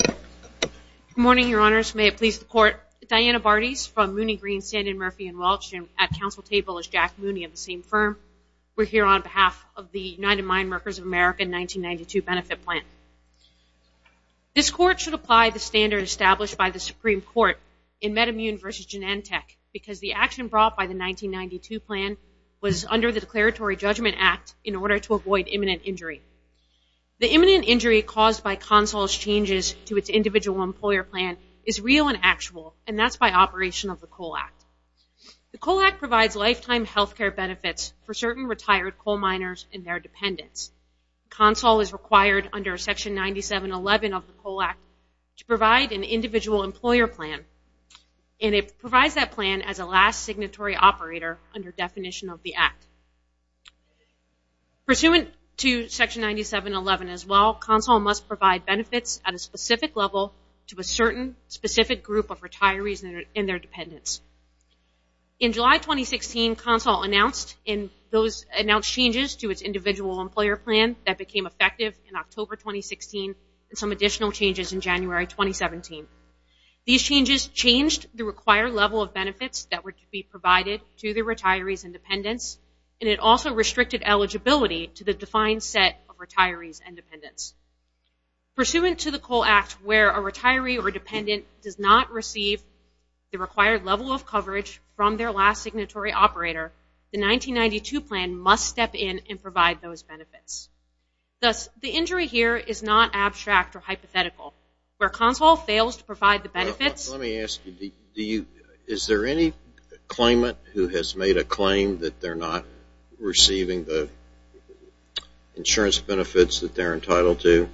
Good morning, Your Honors. May it please the Court, Diana Bartys from Mooney, Green, Sandin, Murphy & Welch, and at Council Table is Jack Mooney of the same firm. We're here on behalf of the United Mine Workers of America 1992 Benefit Plan. This Court should apply the standard established by the Supreme Court in Metamune v. Genentech because the action brought by the 1992 plan was under the Declaratory Judgment Act in order to avoid imminent injury. The imminent injury caused by CONSOL's changes to its Individual Employer Plan is real and actual, and that's by operation of the COAL Act. The COAL Act provides lifetime health care benefits for certain retired coal miners and their dependents. CONSOL is required under Section 9711 of the COAL Act to provide an Individual Employer Plan, and it provides that plan as a signatory operator under definition of the Act. Pursuant to Section 9711 as well, CONSOL must provide benefits at a specific level to a certain specific group of retirees and their dependents. In July 2016, CONSOL announced changes to its Individual Employer Plan that became effective in October 2016 and some additional changes in January 2017. These changes changed the required level of benefits that were to be provided to the retirees and dependents, and it also restricted eligibility to the defined set of retirees and dependents. Pursuant to the COAL Act where a retiree or dependent does not receive the required level of coverage from their last signatory operator, the 1992 plan must step in and provide those benefits. Let me ask you, is there any claimant who has made a claim that they're not receiving the insurance benefits that they're entitled to?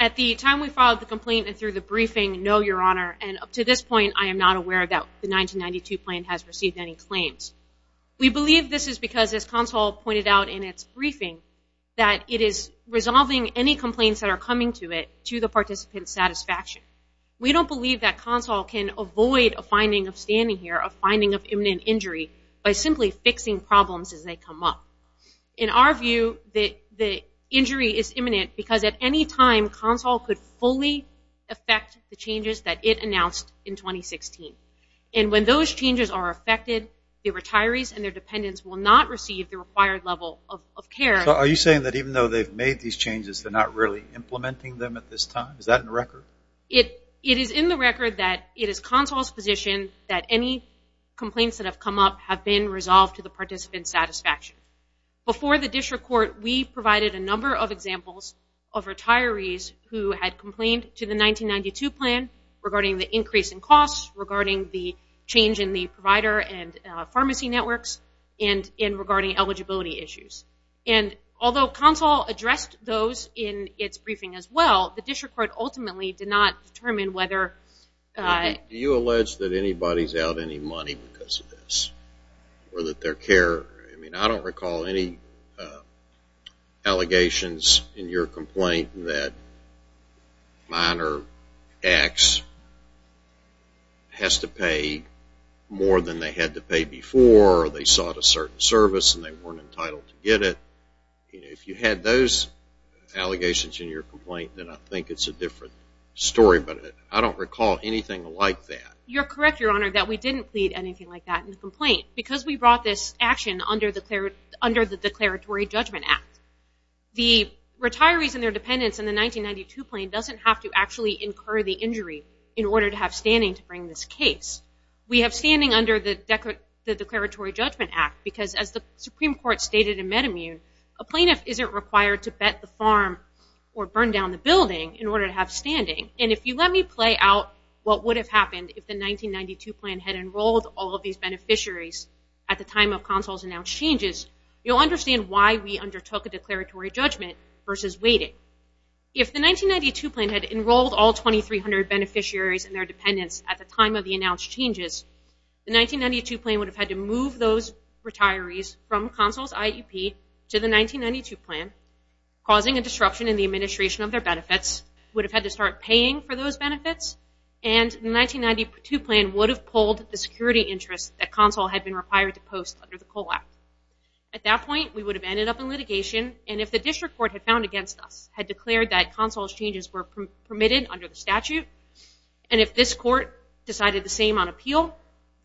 At the time we filed the complaint and through the briefing, no, Your Honor. And up to this point, I am not aware that the 1992 plan has received any claims. We believe this is because, as CONSOL pointed out in its briefing, that it is we don't believe that CONSOL can avoid a finding of standing here, a finding of imminent injury, by simply fixing problems as they come up. In our view, the injury is imminent because at any time CONSOL could fully affect the changes that it announced in 2016. And when those changes are affected, the retirees and their dependents will not receive the required level of care. So are you saying that even though they've made these changes, they're not really implementing them at this time? Is that in the record? It is in the record that it is CONSOL's position that any complaints that have come up have been resolved to the participant's satisfaction. Before the district court, we provided a number of examples of retirees who had complained to the 1992 plan regarding the increase in costs, regarding the change in the provider and pharmacy networks, and regarding eligibility issues. And although CONSOL addressed those in its briefing as well, the district court ultimately did not determine whether... Do you allege that anybody's out any money because of this? Or that their care... I mean, I don't recall any allegations in your complaint that minor X has to pay more than they had to pay before, or they sought a certain service and they weren't entitled to get it. If you had those allegations in your complaint, then I think it's a different story. But I don't recall anything like that. You're correct, Your Honor, that we didn't plead anything like that in the complaint because we brought this action under the Declaratory Judgment Act. The retirees and their dependents in the 1992 plan doesn't have to actually incur the injury in order to have standing to bring this case. We have standing under the Declaratory Judgment Act because, as the Supreme Court stated in MedImmune, a plaintiff isn't required to bet the farm or burn down the building in order to have standing. And if you let me play out what would have happened if the 1992 plan had enrolled all of Consul's announced changes, you'll understand why we undertook a declaratory judgment versus waiting. If the 1992 plan had enrolled all 2,300 beneficiaries and their dependents at the time of the announced changes, the 1992 plan would have had to move those retirees from Consul's IEP to the 1992 plan, causing a disruption in the administration of their benefits, would have had to start paying for those benefits, and the 1992 plan would have pulled the security interest that Consul had been required to post under the COLE Act. At that point, we would have ended up in litigation, and if the district court had found against us, had declared that Consul's changes were permitted under the statute, and if this court decided the same on appeal,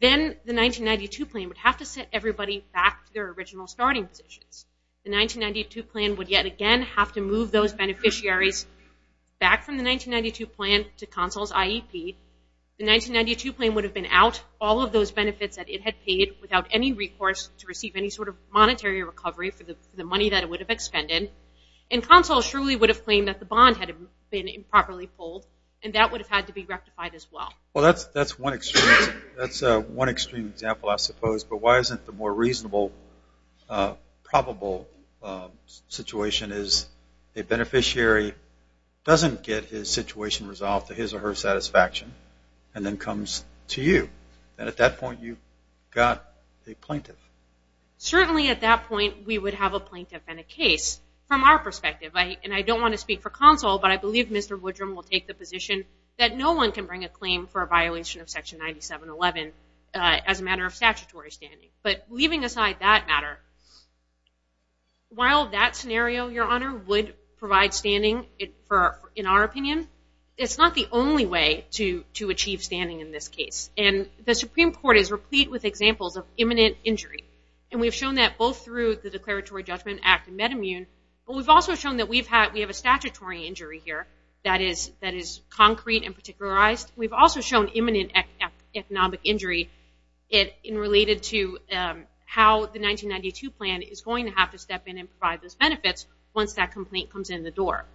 then the 1992 plan would have to sit everybody back to their original starting positions. The 1992 plan would yet again have to move those beneficiaries back from the 1992 plan to Consul's IEP. The 1992 plan would have been out all of those benefits that it had paid without any recourse to receive any sort of monetary recovery for the money that it would have expended, and Consul surely would have claimed that the bond had been improperly pulled, and that would have had to be rectified as well. Well, that's one extreme example, I suppose, but why isn't the more reasonable, probable situation is a beneficiary doesn't get his situation resolved to his or her satisfaction, and then comes to you, and at that point you've got a plaintiff. Certainly at that point, we would have a plaintiff and a case. From our perspective, and I don't want to speak for Consul, but I believe Mr. Woodrum will take the position that no one can bring a claim for a violation of Section 9711 as a matter of statutory standing, but leaving aside that matter, while that scenario, Your Honor, would provide standing in our opinion, it's not the only way to achieve standing in this case, and the Supreme Court is replete with examples of imminent injury, and we've shown that both through the Declaratory Judgment Act and MedImmune, but we've also shown that we have a statutory injury here that is concrete and particularized. We've also shown imminent economic injury in related to how the 1992 plan is going to have to step in and provide those benefits once that complaint comes in the door.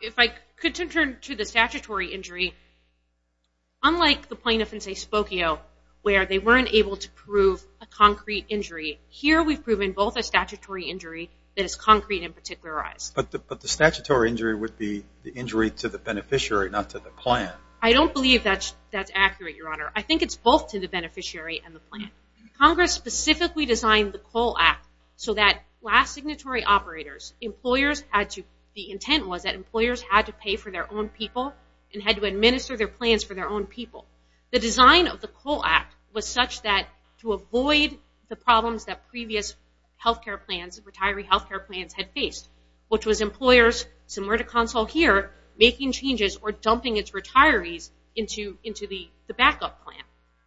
If I could turn to the statutory injury, unlike the plaintiff in, say, Spokio, where they weren't able to prove a concrete injury, here we've proven both a statutory injury that is concrete and particularized. But the statutory injury would be the injury to the beneficiary, not to the plan. I don't believe that's accurate, Your Honor. I think it's both to the beneficiary and the plan. Congress specifically designed the COLE Act so that last signatory operators, employers had to, the intent was that employers had to pay for their own people and had to administer their plans for their own people. The design of the COLE Act was such that to avoid the problems that previous health care plans, retiree health care plans, had faced, which was employers, similar to Consul here, making changes or dumping its retirees into the backup plan.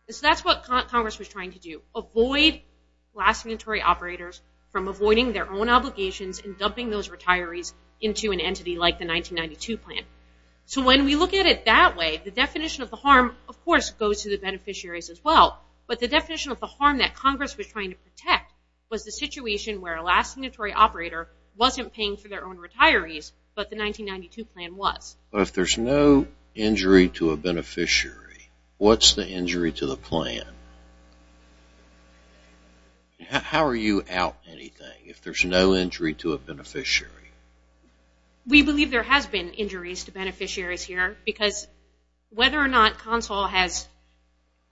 So that's what Congress was trying to do, avoid last signatory operators from avoiding their own obligations and dumping those retirees into an entity like the 1992 plan. So when we look at it that way, the definition of the harm, of course, goes to the beneficiaries as well. But the definition of the harm that Congress was trying to protect was the situation where a last signatory operator wasn't paying for their own retirees, but the 1992 plan was. But if there's no injury to a beneficiary, what's the injury to the plan? How are you out anything if there's no injury to a beneficiary? We believe there has been injuries to beneficiaries here because whether or not Consul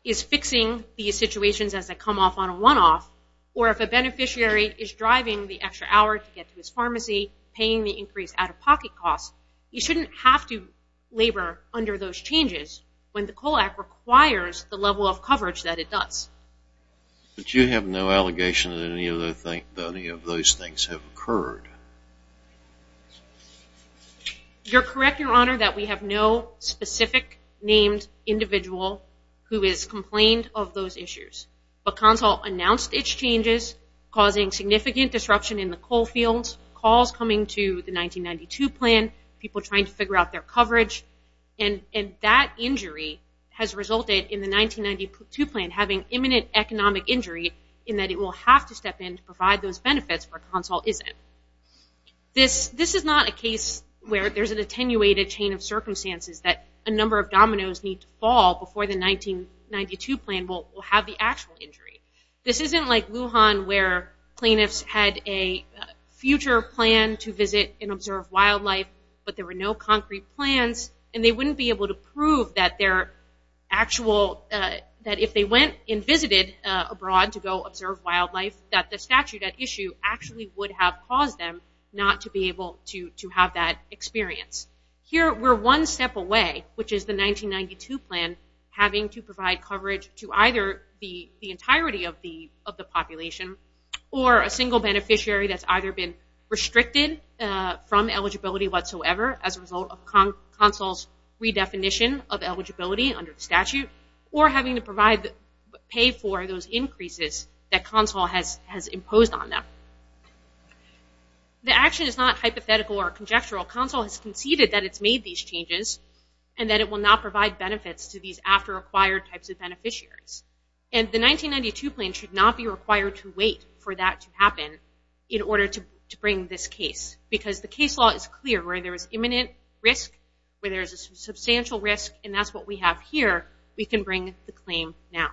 is fixing these situations as they come off on a one-off, or if a beneficiary is driving the extra hour to get to his pharmacy, paying the increased out-of-pocket costs, you shouldn't have to labor under those changes when the COLE Act requires the level of coverage that it does. But you have no allegation that any of those things have occurred? You're correct, Your Honor, that we have no specific named individual who has complained of those issues. But Consul announced its changes, causing significant disruption in the COLE fields, calls coming to the 1992 plan, people trying to figure out their coverage, and that injury has resulted in the 1992 plan having imminent economic injury in that it will have to step in to provide those benefits where Consul isn't. This is not a case where there's an attenuated chain of circumstances that a number of dominoes need to fall before the 1992 plan will have the actual injury. This isn't like Lujan, where plaintiffs had a future plan to visit and observe wildlife, but there were no concrete plans, and they wouldn't be able to prove that their actual, that if they went and visited abroad to go observe wildlife, that the statute at issue actually would have caused them not to be able to have that experience. Here, we're one step away, which is the 1992 plan having to provide coverage to either the entirety of the population, or a single beneficiary that's either been restricted from eligibility whatsoever as a result of Consul's redefinition of eligibility under the statute, or having to pay for those benefits. The action is not hypothetical or conjectural. Consul has conceded that it's made these changes and that it will not provide benefits to these after-acquired types of beneficiaries, and the 1992 plan should not be required to wait for that to happen in order to bring this case, because the case law is clear where there is imminent risk, where there's a substantial risk, and that's what we have here. We can bring the claim now.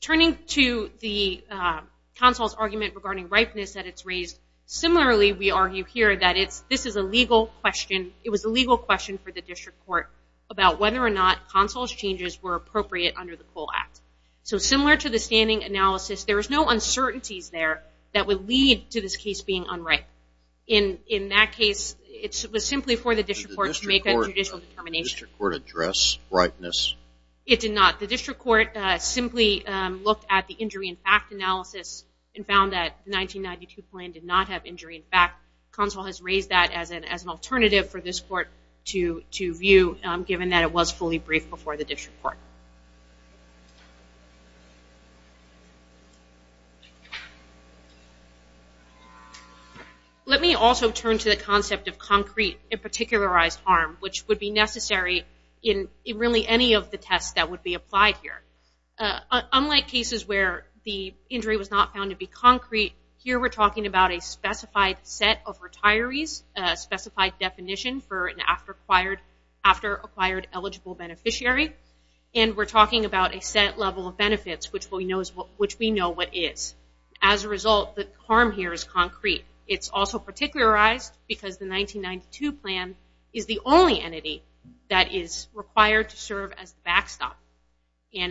Turning to the Consul's argument regarding ripeness that it's raised, similarly, we argue here that this is a legal question. It was a legal question for the District Court about whether or not Consul's changes were appropriate under the COLE Act. Similar to the standing analysis, there was no uncertainties there that would lead to this case being unripe. In that case, it was simply for the District Court to make a judicial determination. The District Court addressed ripeness. It did not. The District Court simply looked at the injury in fact analysis and found that the 1992 plan did not have injury in fact. Consul has raised that as an alternative for this Court to view, given that it was fully briefed before the District Court. Let me also turn to the concept of concrete and particularized harm, which would be necessary in really any of the tests that would be applied here. Unlike cases where the injury was not found to be concrete, here we're talking about a specified set of retirees, a specified definition for an after-acquired eligible beneficiary, and we're talking about a set level of benefits, which we know what is. As a result, the harm here is concrete. It's also particularized because the 1992 plan is the only entity that is required to serve as the backstop.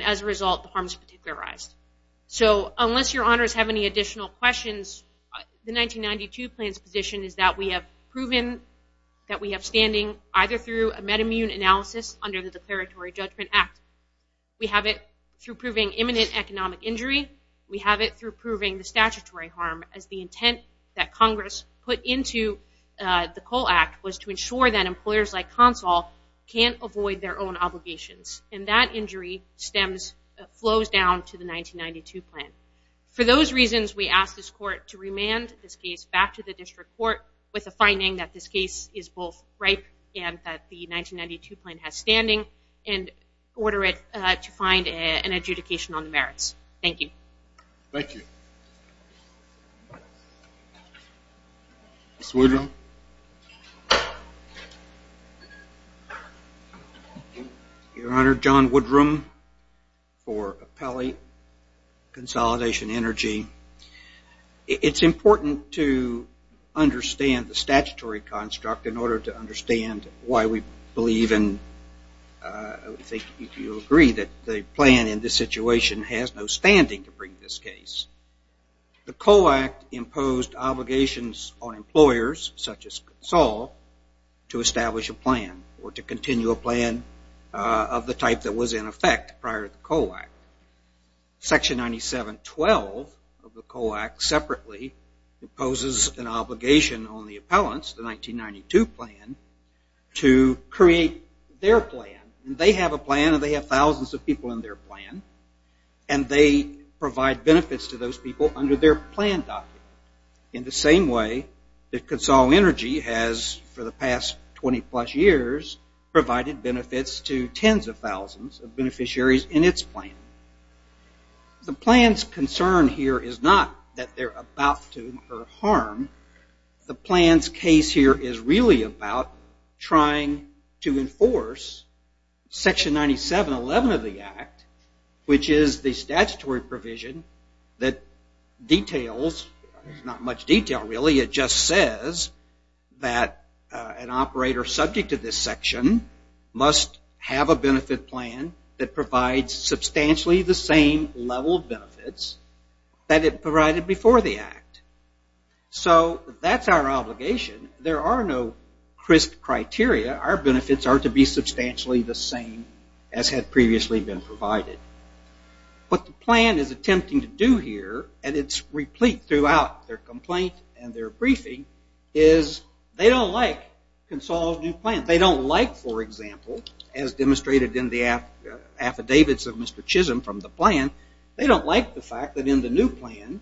As a result, the harm is particularized. Unless your honors have any additional questions, the 1992 plan's position is that we have proven that we have standing either through a meta-immune analysis under the Declaratory Judgment Act. We have it through proving imminent economic injury. We have it through proving the statutory harm as the intent that Congress put into the COLE Act was to ensure that employers like Consul can't avoid their own obligations, and that injury flows down to the 1992 plan. For those reasons, we ask this Court to remand this case back to the District Court with a finding that this case is both ripe and the 1992 plan has standing, and order it to find an adjudication on the merits. Thank you. Thank you. Mr. Woodrum. Your Honor, John Woodrum for Appellate Consolidation Energy. It's important to believe and I think you'll agree that the plan in this situation has no standing to bring this case. The COLE Act imposed obligations on employers such as Consul to establish a plan or to continue a plan of the type that was in effect prior to the COLE Act. Section 9712 of the COLE Act separately imposes an obligation on the appellants, the 1992 plan, to create their plan. They have a plan and they have thousands of people in their plan, and they provide benefits to those people under their plan document in the same way that Consul Energy has for the past 20 plus years provided benefits to tens of thousands of beneficiaries in its plan. The plan's concern here is not that they're about to incur harm. The plan's case here is really about trying to enforce Section 9711 of the Act, which is the statutory provision that details, not much detail really, it just says that an operator subject to this section must have a benefit plan that provides substantially the same level of benefits that it provided before the Act. So that's our obligation. There are no crisp criteria. Our benefits are to be substantially the same as had previously been provided. What the plan is attempting to do here, and it's replete throughout their complaint and their briefing, is they don't like Consul's new plan. They don't like, for example, as demonstrated in the affidavits of Mr. Chisholm from the plan, they don't like the fact that in the new plan,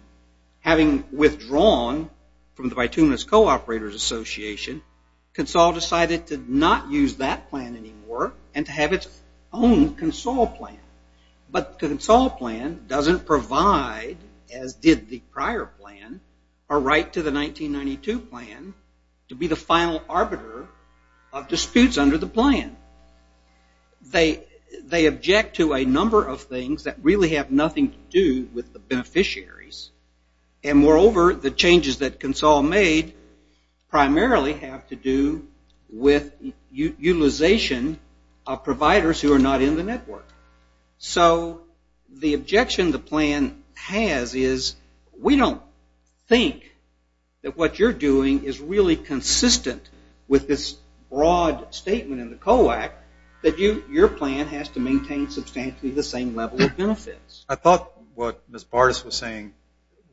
having withdrawn from the Bituminous Co-operators Association, Consul decided to not use that plan anymore and to have its own Consul plan. But the Consul plan doesn't provide, as did the prior plan, a right to the 1992 plan to be the final arbiter of disputes under the plan. They object to a number of things that really have nothing to do with the beneficiaries, and moreover, the changes that Consul made primarily have to do with utilization of providers who are not in the network. So the plan has is we don't think that what you're doing is really consistent with this broad statement in the COAC that your plan has to maintain substantially the same level of benefits. I thought what Ms. Bartas was saying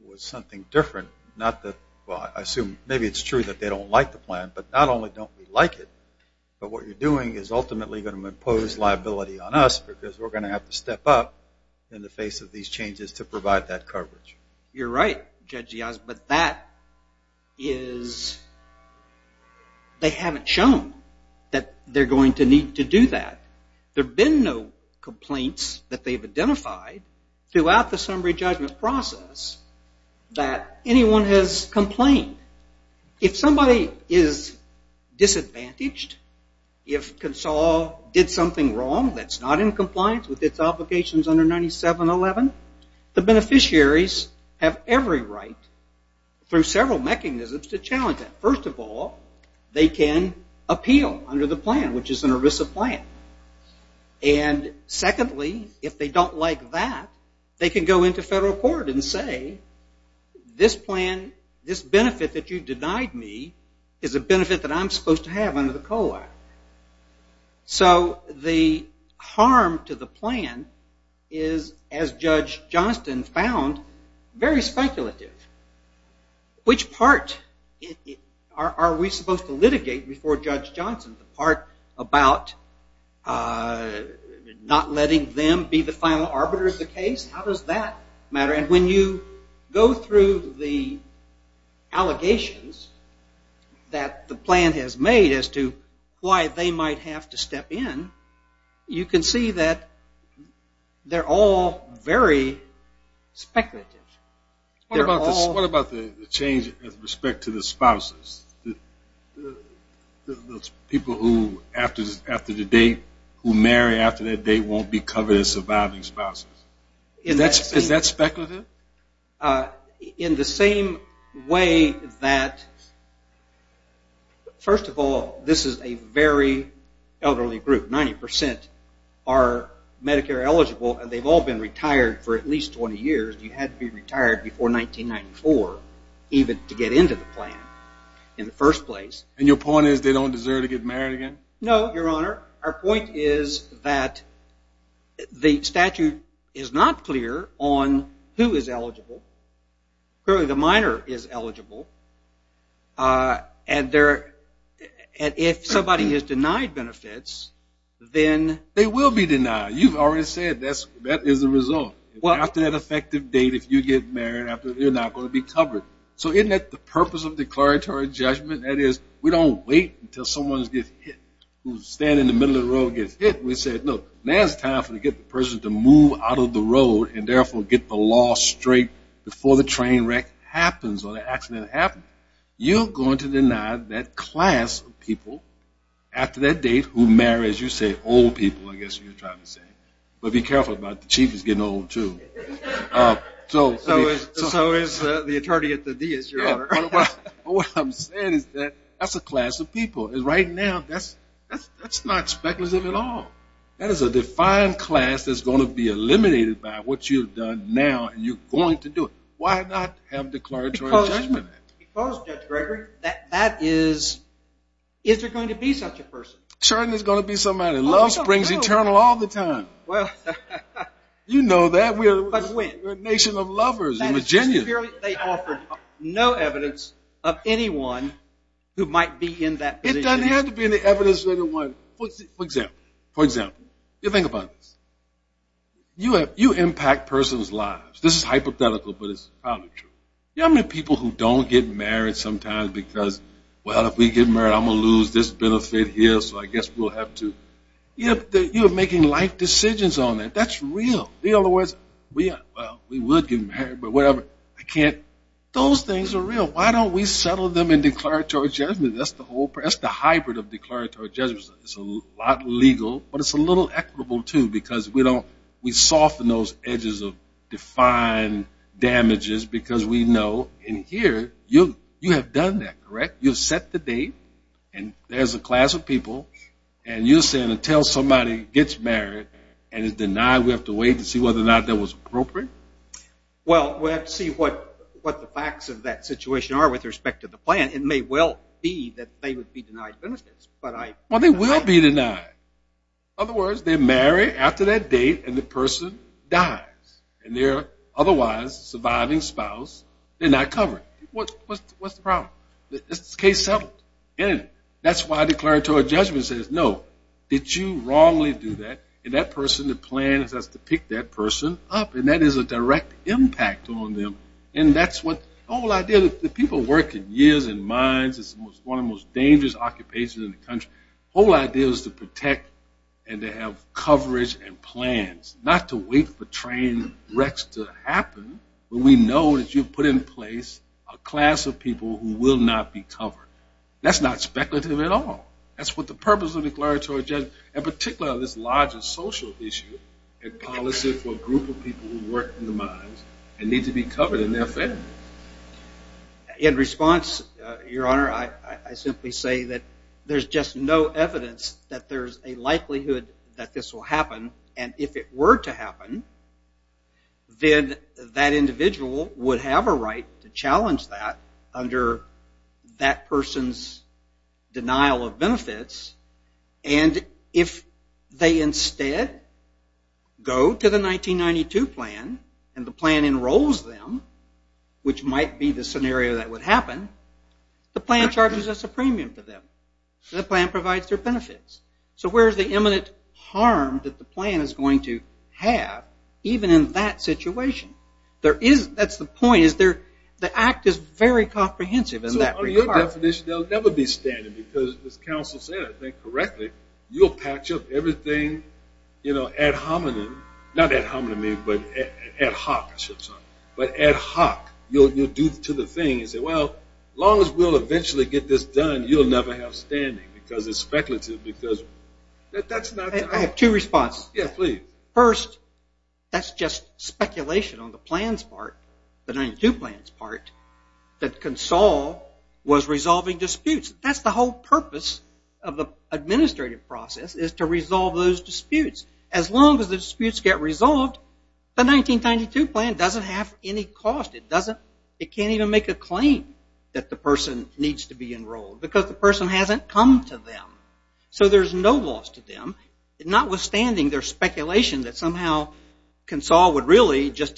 was something different, not that, well, I assume maybe it's true that they don't like the plan, but not only don't we like it, but what you're doing is to provide that coverage. You're right, Judge Giaz, but that is, they haven't shown that they're going to need to do that. There have been no complaints that they've identified throughout the summary judgment process that anyone has complained. If somebody is disadvantaged, if Consul did something wrong that's not in compliance with its obligations under 9711, the beneficiaries have every right through several mechanisms to challenge that. First of all, they can appeal under the plan, which is an ERISA plan. And secondly, if they don't like that, they can go into federal court and say this plan, this benefit that you denied me is a benefit that I'm supposed to have under the COAC. So the harm to the plan is, as Judge Johnston found, very speculative. Which part are we supposed to litigate before Judge Johnston? The part about not letting them be the final arbiter of the case? How does that matter? And when you go through the allegations that the plan has made as to why they might have to step in, you can see that they're all very speculative. What about the change with respect to the spouses? Those people who, after the date, who marry after that date won't be covered as surviving spouses. Is that speculative? In the same way that, first of all, this is a very elderly group. 90% are Medicare eligible and they've all been retired for at least 20 years. You had to be retired before 1994 even to get into the plan in the first place. And your point is they don't deserve to get married again? No, Your Honor. Our point is that the statute is not clear on who is eligible. Clearly, the minor is eligible. And if somebody is denied benefits, then... They will be denied. You've already said that is the result. After that effective date, if you get married, you're not going to be until someone gets hit, who's standing in the middle of the road gets hit. We said, look, now is the time to get the person to move out of the road and, therefore, get the law straight before the train wreck happens or the accident happens. You're going to deny that class of people after that date who marry, as you say, old people, I guess you're trying to say. But be careful about the chief who's getting old, too. So is the attorney at the DS, Your Honor. What I'm saying is that that's a class of people. Right now, that's not speculative at all. That is a defined class that's going to be eliminated by what you've done now and you're going to do it. Why not have declaratory judgment? Because, Judge Gregory, that is... Is there going to be such a person? Certainly, there's going to be somebody. Love springs eternal all the time. You know that. We're a nation of lovers in the presence of anyone who might be in that position. It doesn't have to be in the evidence of anyone. For example, you think about this. You impact person's lives. This is hypothetical, but it's probably true. You know how many people who don't get married sometimes because, well, if we get married, I'm going to lose this benefit here, so I guess we'll have to... You're making life decisions on it. That's real. In other words, we would get married, but whatever. I can't... Those things are real. Why don't we settle them in declaratory judgment? That's the whole... That's the hybrid of declaratory judgment. It's a lot legal, but it's a little equitable, too, because we don't... We soften those edges of defined damages because we know in here, you have done that, correct? You've set the date, and there's a class of people, and you're saying until somebody gets married and is denied, we have to wait to see whether or not that was appropriate? Well, we have to see what the facts of that situation are with respect to the plan. It may well be that they would be denied benefits, but I... Well, they will be denied. In other words, they marry after that date, and the person dies, and their otherwise surviving spouse, they're not covered. What's the problem? It's case settled. That's why declaratory judgment says, no, did you wrongly do that, and that person, the plan is to pick that person up, and that is a direct impact on them, and that's what the whole idea... The people work in years and mines. It's one of the most dangerous occupations in the country. The whole idea is to protect and to have coverage and plans, not to wait for train wrecks to happen, but we know that you've put in place a class of people who will not be covered. That's not speculative at all. That's what the purpose of declaratory judgment, and particularly on this larger social issue, and policy for a group of people who work in the mines and need to be covered in their family. In response, your honor, I simply say that there's just no evidence that there's a likelihood that this will happen, and if it were to happen, then that individual would have a right to challenge that under that person's denial of benefits, and if they instead go to the 1992 plan, and the plan enrolls them, which might be the scenario that would happen, the plan charges us a premium for them. The plan provides their benefits. So where's the imminent harm that the plan is going to have, even in that situation? That's the point. The act is very comprehensive in that regard. I have two responses. First, that's just speculation on the plans part, the 1992 plans part, that Console was resolving disputes. That's the whole purpose of the administrative process, is to resolve those disputes. As long as the disputes get resolved, the 1992 plan doesn't have any cost. It can't even make a claim that the person needs to be enrolled, because the person hasn't come to them. So there's no loss to them, notwithstanding their speculation that somehow Console would really just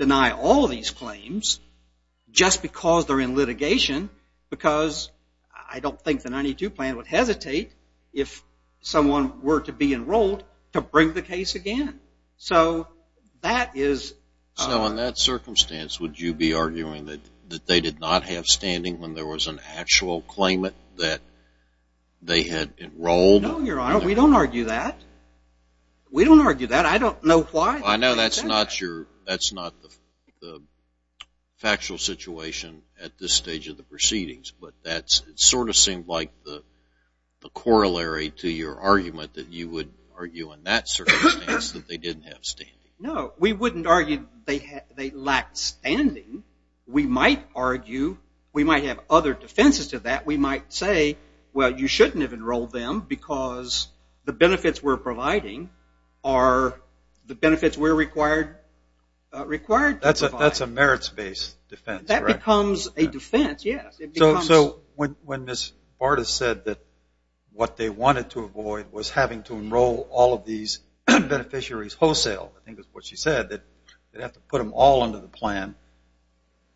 I don't think the 1992 plan would hesitate, if someone were to be enrolled, to bring the case again. So that is So in that circumstance, would you be arguing that they did not have standing when there was an actual claimant that they had enrolled? No, Your Honor, we don't argue that. We don't argue that. I don't know why. I know that's not the factual situation at this point, but it sort of seemed like the corollary to your argument that you would argue in that circumstance that they didn't have standing. No, we wouldn't argue they lacked standing. We might argue, we might have other defenses to that. We might say, well, you shouldn't have enrolled them, because the benefits we're providing are the benefits we're required to provide. That's a merits-based defense, correct? That becomes a defense, yes. So when Ms. Bartas said that what they wanted to avoid was having to enroll all of these beneficiaries wholesale, I think that's what she said, that they'd have to put them all under the plan,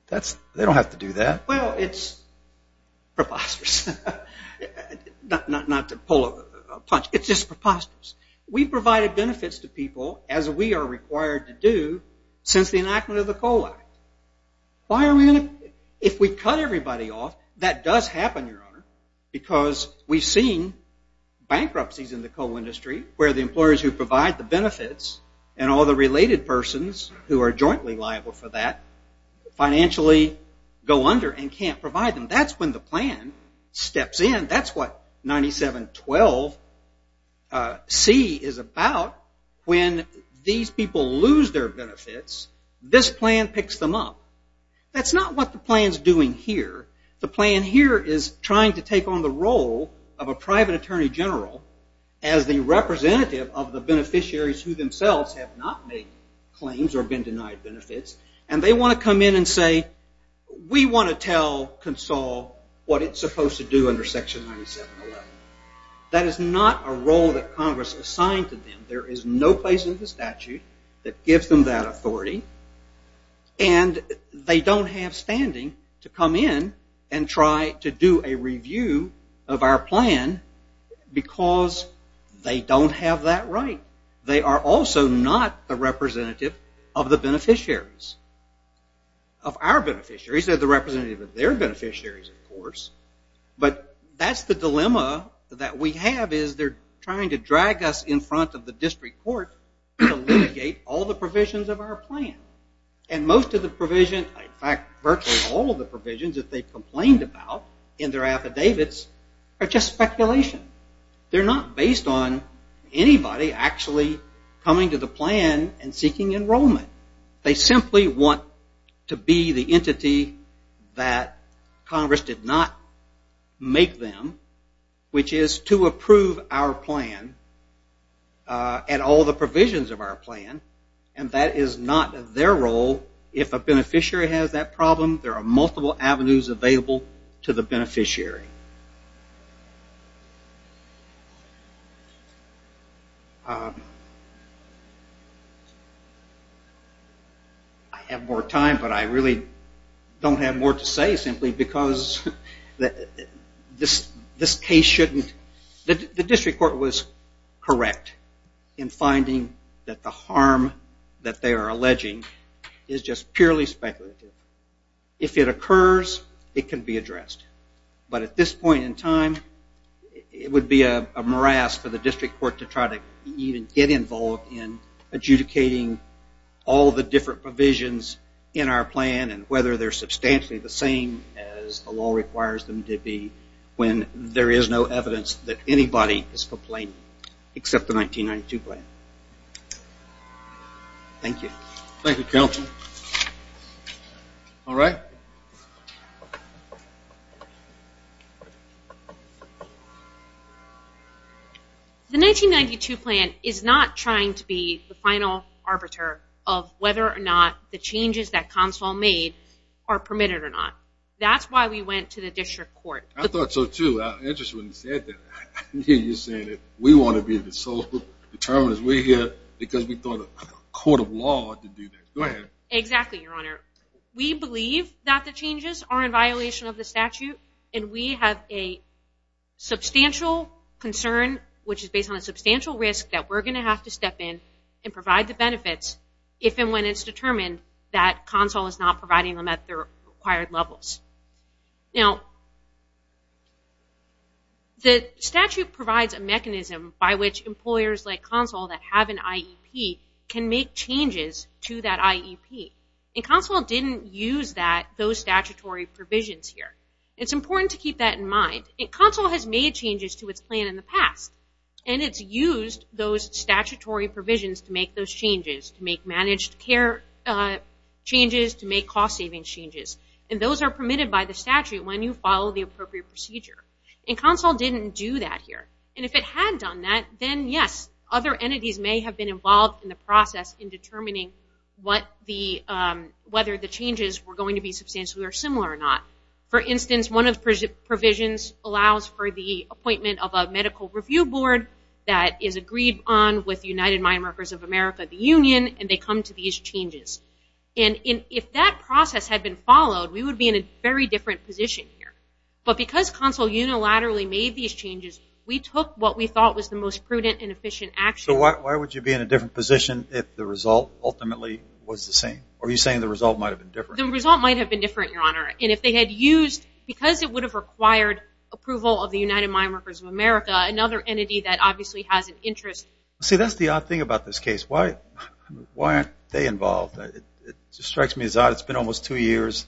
they don't have to do that. Well, it's preposterous. Not to pull a punch, it's just preposterous. We've provided benefits to people, as we are required to do, since the beginning. If we cut everybody off, that does happen, Your Honor, because we've seen bankruptcies in the coal industry where the employers who provide the benefits and all the related persons who are jointly liable for that financially go under and can't provide them. That's when the plan steps in. That's what 9712C is about. When these people lose their benefits, this plan picks them up. That's not what the plan's doing here. The plan here is trying to take on the role of a private attorney general as the representative of the beneficiaries who themselves have not made claims or been denied benefits, and they want to come in and say, we want to tell CONSOL what it's supposed to do under section 9711. That is not a role that Congress assigned to them. There is no place in the statute that gives them that authority, and they don't have standing to come in and try to do a review of our plan because they don't have that right. They are also not the representative of the beneficiaries, of our beneficiaries. They're the representative of their beneficiaries, of course, but that's the dilemma that we have is they're trying to drag us in front of the district court to litigate all the provisions of our plan, and most of the provision, in fact, virtually all of the provisions that they complained about in their affidavits are just speculation. They're not based on anybody actually coming to the plan and all the provisions of our plan, and that is not their role. If a beneficiary has that problem, there are multiple avenues available to the beneficiary. I have more time, but I really don't have more to say simply because this case shouldn't, the district court was correct in finding that the harm that speculative. If it occurs, it can be addressed, but at this point in time, it would be a morass for the district court to try to even get involved in adjudicating all the different provisions in our plan and whether they're substantially the same as the law requires them to be when there is no evidence that anybody is complaining except the 1992 plan. Thank you. Thank you, counsel. All right. The 1992 plan is not trying to be the final arbiter of whether or not the changes that consul made are permitted or not. That's why we went to the district court. I thought so, too. We want to be the sole determinants because we thought a court of law would do that. Go ahead. Exactly, your honor. We believe that the changes are in violation of the statute, and we have a substantial concern, which is based on a substantial risk that we're going to have to step in and provide the benefits if and when it's determined that consul is not providing them at the required levels. Now, the statute provides a mechanism by which employers like consul that have an IEP can make changes to that IEP. Consul didn't use those statutory provisions here. It's important to keep that in mind. Consul has made changes to its plan in the past, and it's used those statutory provisions to make those changes, to make managed care changes, to make cost-saving changes. Those are permitted by the statute when you follow the appropriate procedure. Consul didn't do that here. If it had done that, then yes, other entities may have been involved in the process in determining whether the changes were going to be substantially or similar or not. For instance, one of the provisions allows for the appointment of a medical review board that is agreed on with United Mine Workers of America, the union, and they come to these changes. And if that process had been followed, we would be in a very different position here. But because consul unilaterally made these changes, we took what we thought was the most prudent and efficient action. So why would you be in a different position if the result ultimately was the same? Are you saying the result might have been different? The result might have been different, Your Honor. And if they had used, because it would have required approval of the United Mine Workers of America, another entity that obviously has an interest. See, that's the odd thing about this case. Why aren't they involved? It strikes me as odd. It's been almost two years.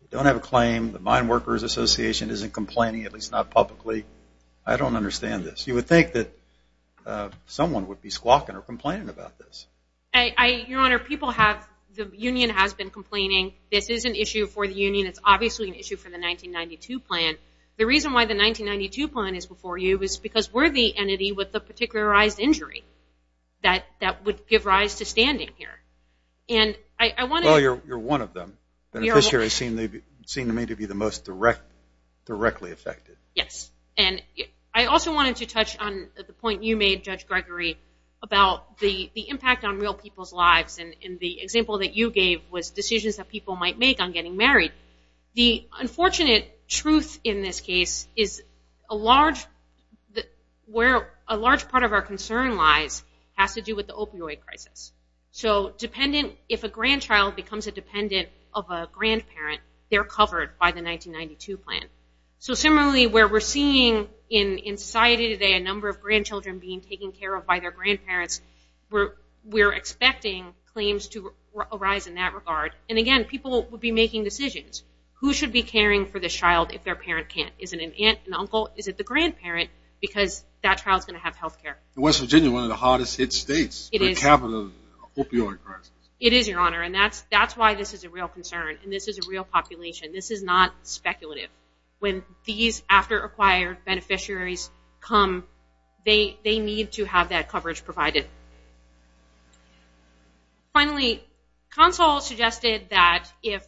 They don't have a claim. The Mine Workers Association isn't complaining, at least not publicly. I don't understand this. You would think that someone would be squawking or complaining about this. Your Honor, the union has been complaining. This is an issue for the union. It's obviously an issue for the 1992 plan. The reason why the 1992 plan is before you is because we're the entity with the particularized injury that would give rise to standing here. Well, you're one of them. Beneficiaries seem to me to be the most directly affected. Yes. And I also wanted to touch on the point you made, Judge Gregory, about the impact on real people's lives. And the example that you gave was decisions that people might make on getting married. The unfortunate truth in this case is where a large part of our concern lies has to do with the opioid crisis. So if a grandchild becomes a dependent of a grandparent, they're covered by the 1992 plan. So similarly, where we're seeing in society today a number of grandchildren being taken care of by their grandparents, we're expecting claims to arise in that regard. And again, people will be making decisions. Who should be caring for this child if their parent can't? Is it an aunt, an uncle? Is it the grandparent? Because that child's going to have health care. West Virginia, one of the hardest hit states, the capital of the opioid crisis. It is, Your Honor. And that's why this is a real concern. And this is a real population. This is not speculative. When these after-acquired beneficiaries come, they need to have that coverage provided. Finally, CONSOL suggested that if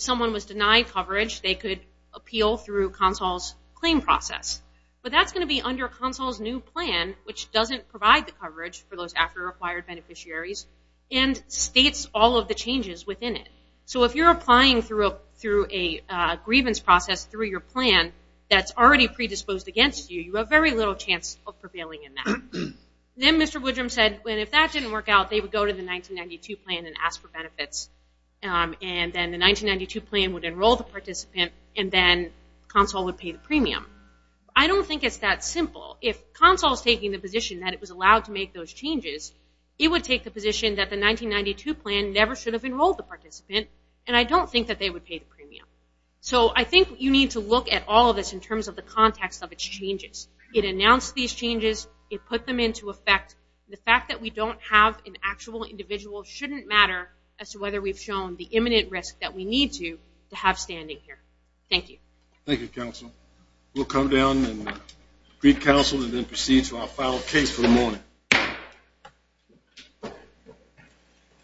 someone was denied coverage, they could appeal through CONSOL's claim process. But that's going to be under CONSOL's new plan, which doesn't provide the coverage for those after-acquired beneficiaries. And states all of the changes within it. So if you're applying through a grievance process through your plan that's already predisposed against you, you have very little chance of prevailing in that. Then Mr. Woodrum said, if that didn't work out, they would go to the 1992 plan and ask for benefits. And then the 1992 plan would enroll the participant, and then CONSOL would pay the premium. I don't think it's that simple. If CONSOL's taking the position that it was allowed to make those changes, it would take the position that the 1992 plan never should have enrolled the participant, and I don't think that they would pay the premium. So I think you need to look at all of this in terms of the context of its changes. It announced these changes. It put them into effect. The fact that we don't have an actual individual shouldn't matter as to whether we've shown the imminent risk that we need to have standing here. Thank you. Thank you, CONSOL. We'll come down and greet CONSOL and then proceed to our final case for the morning.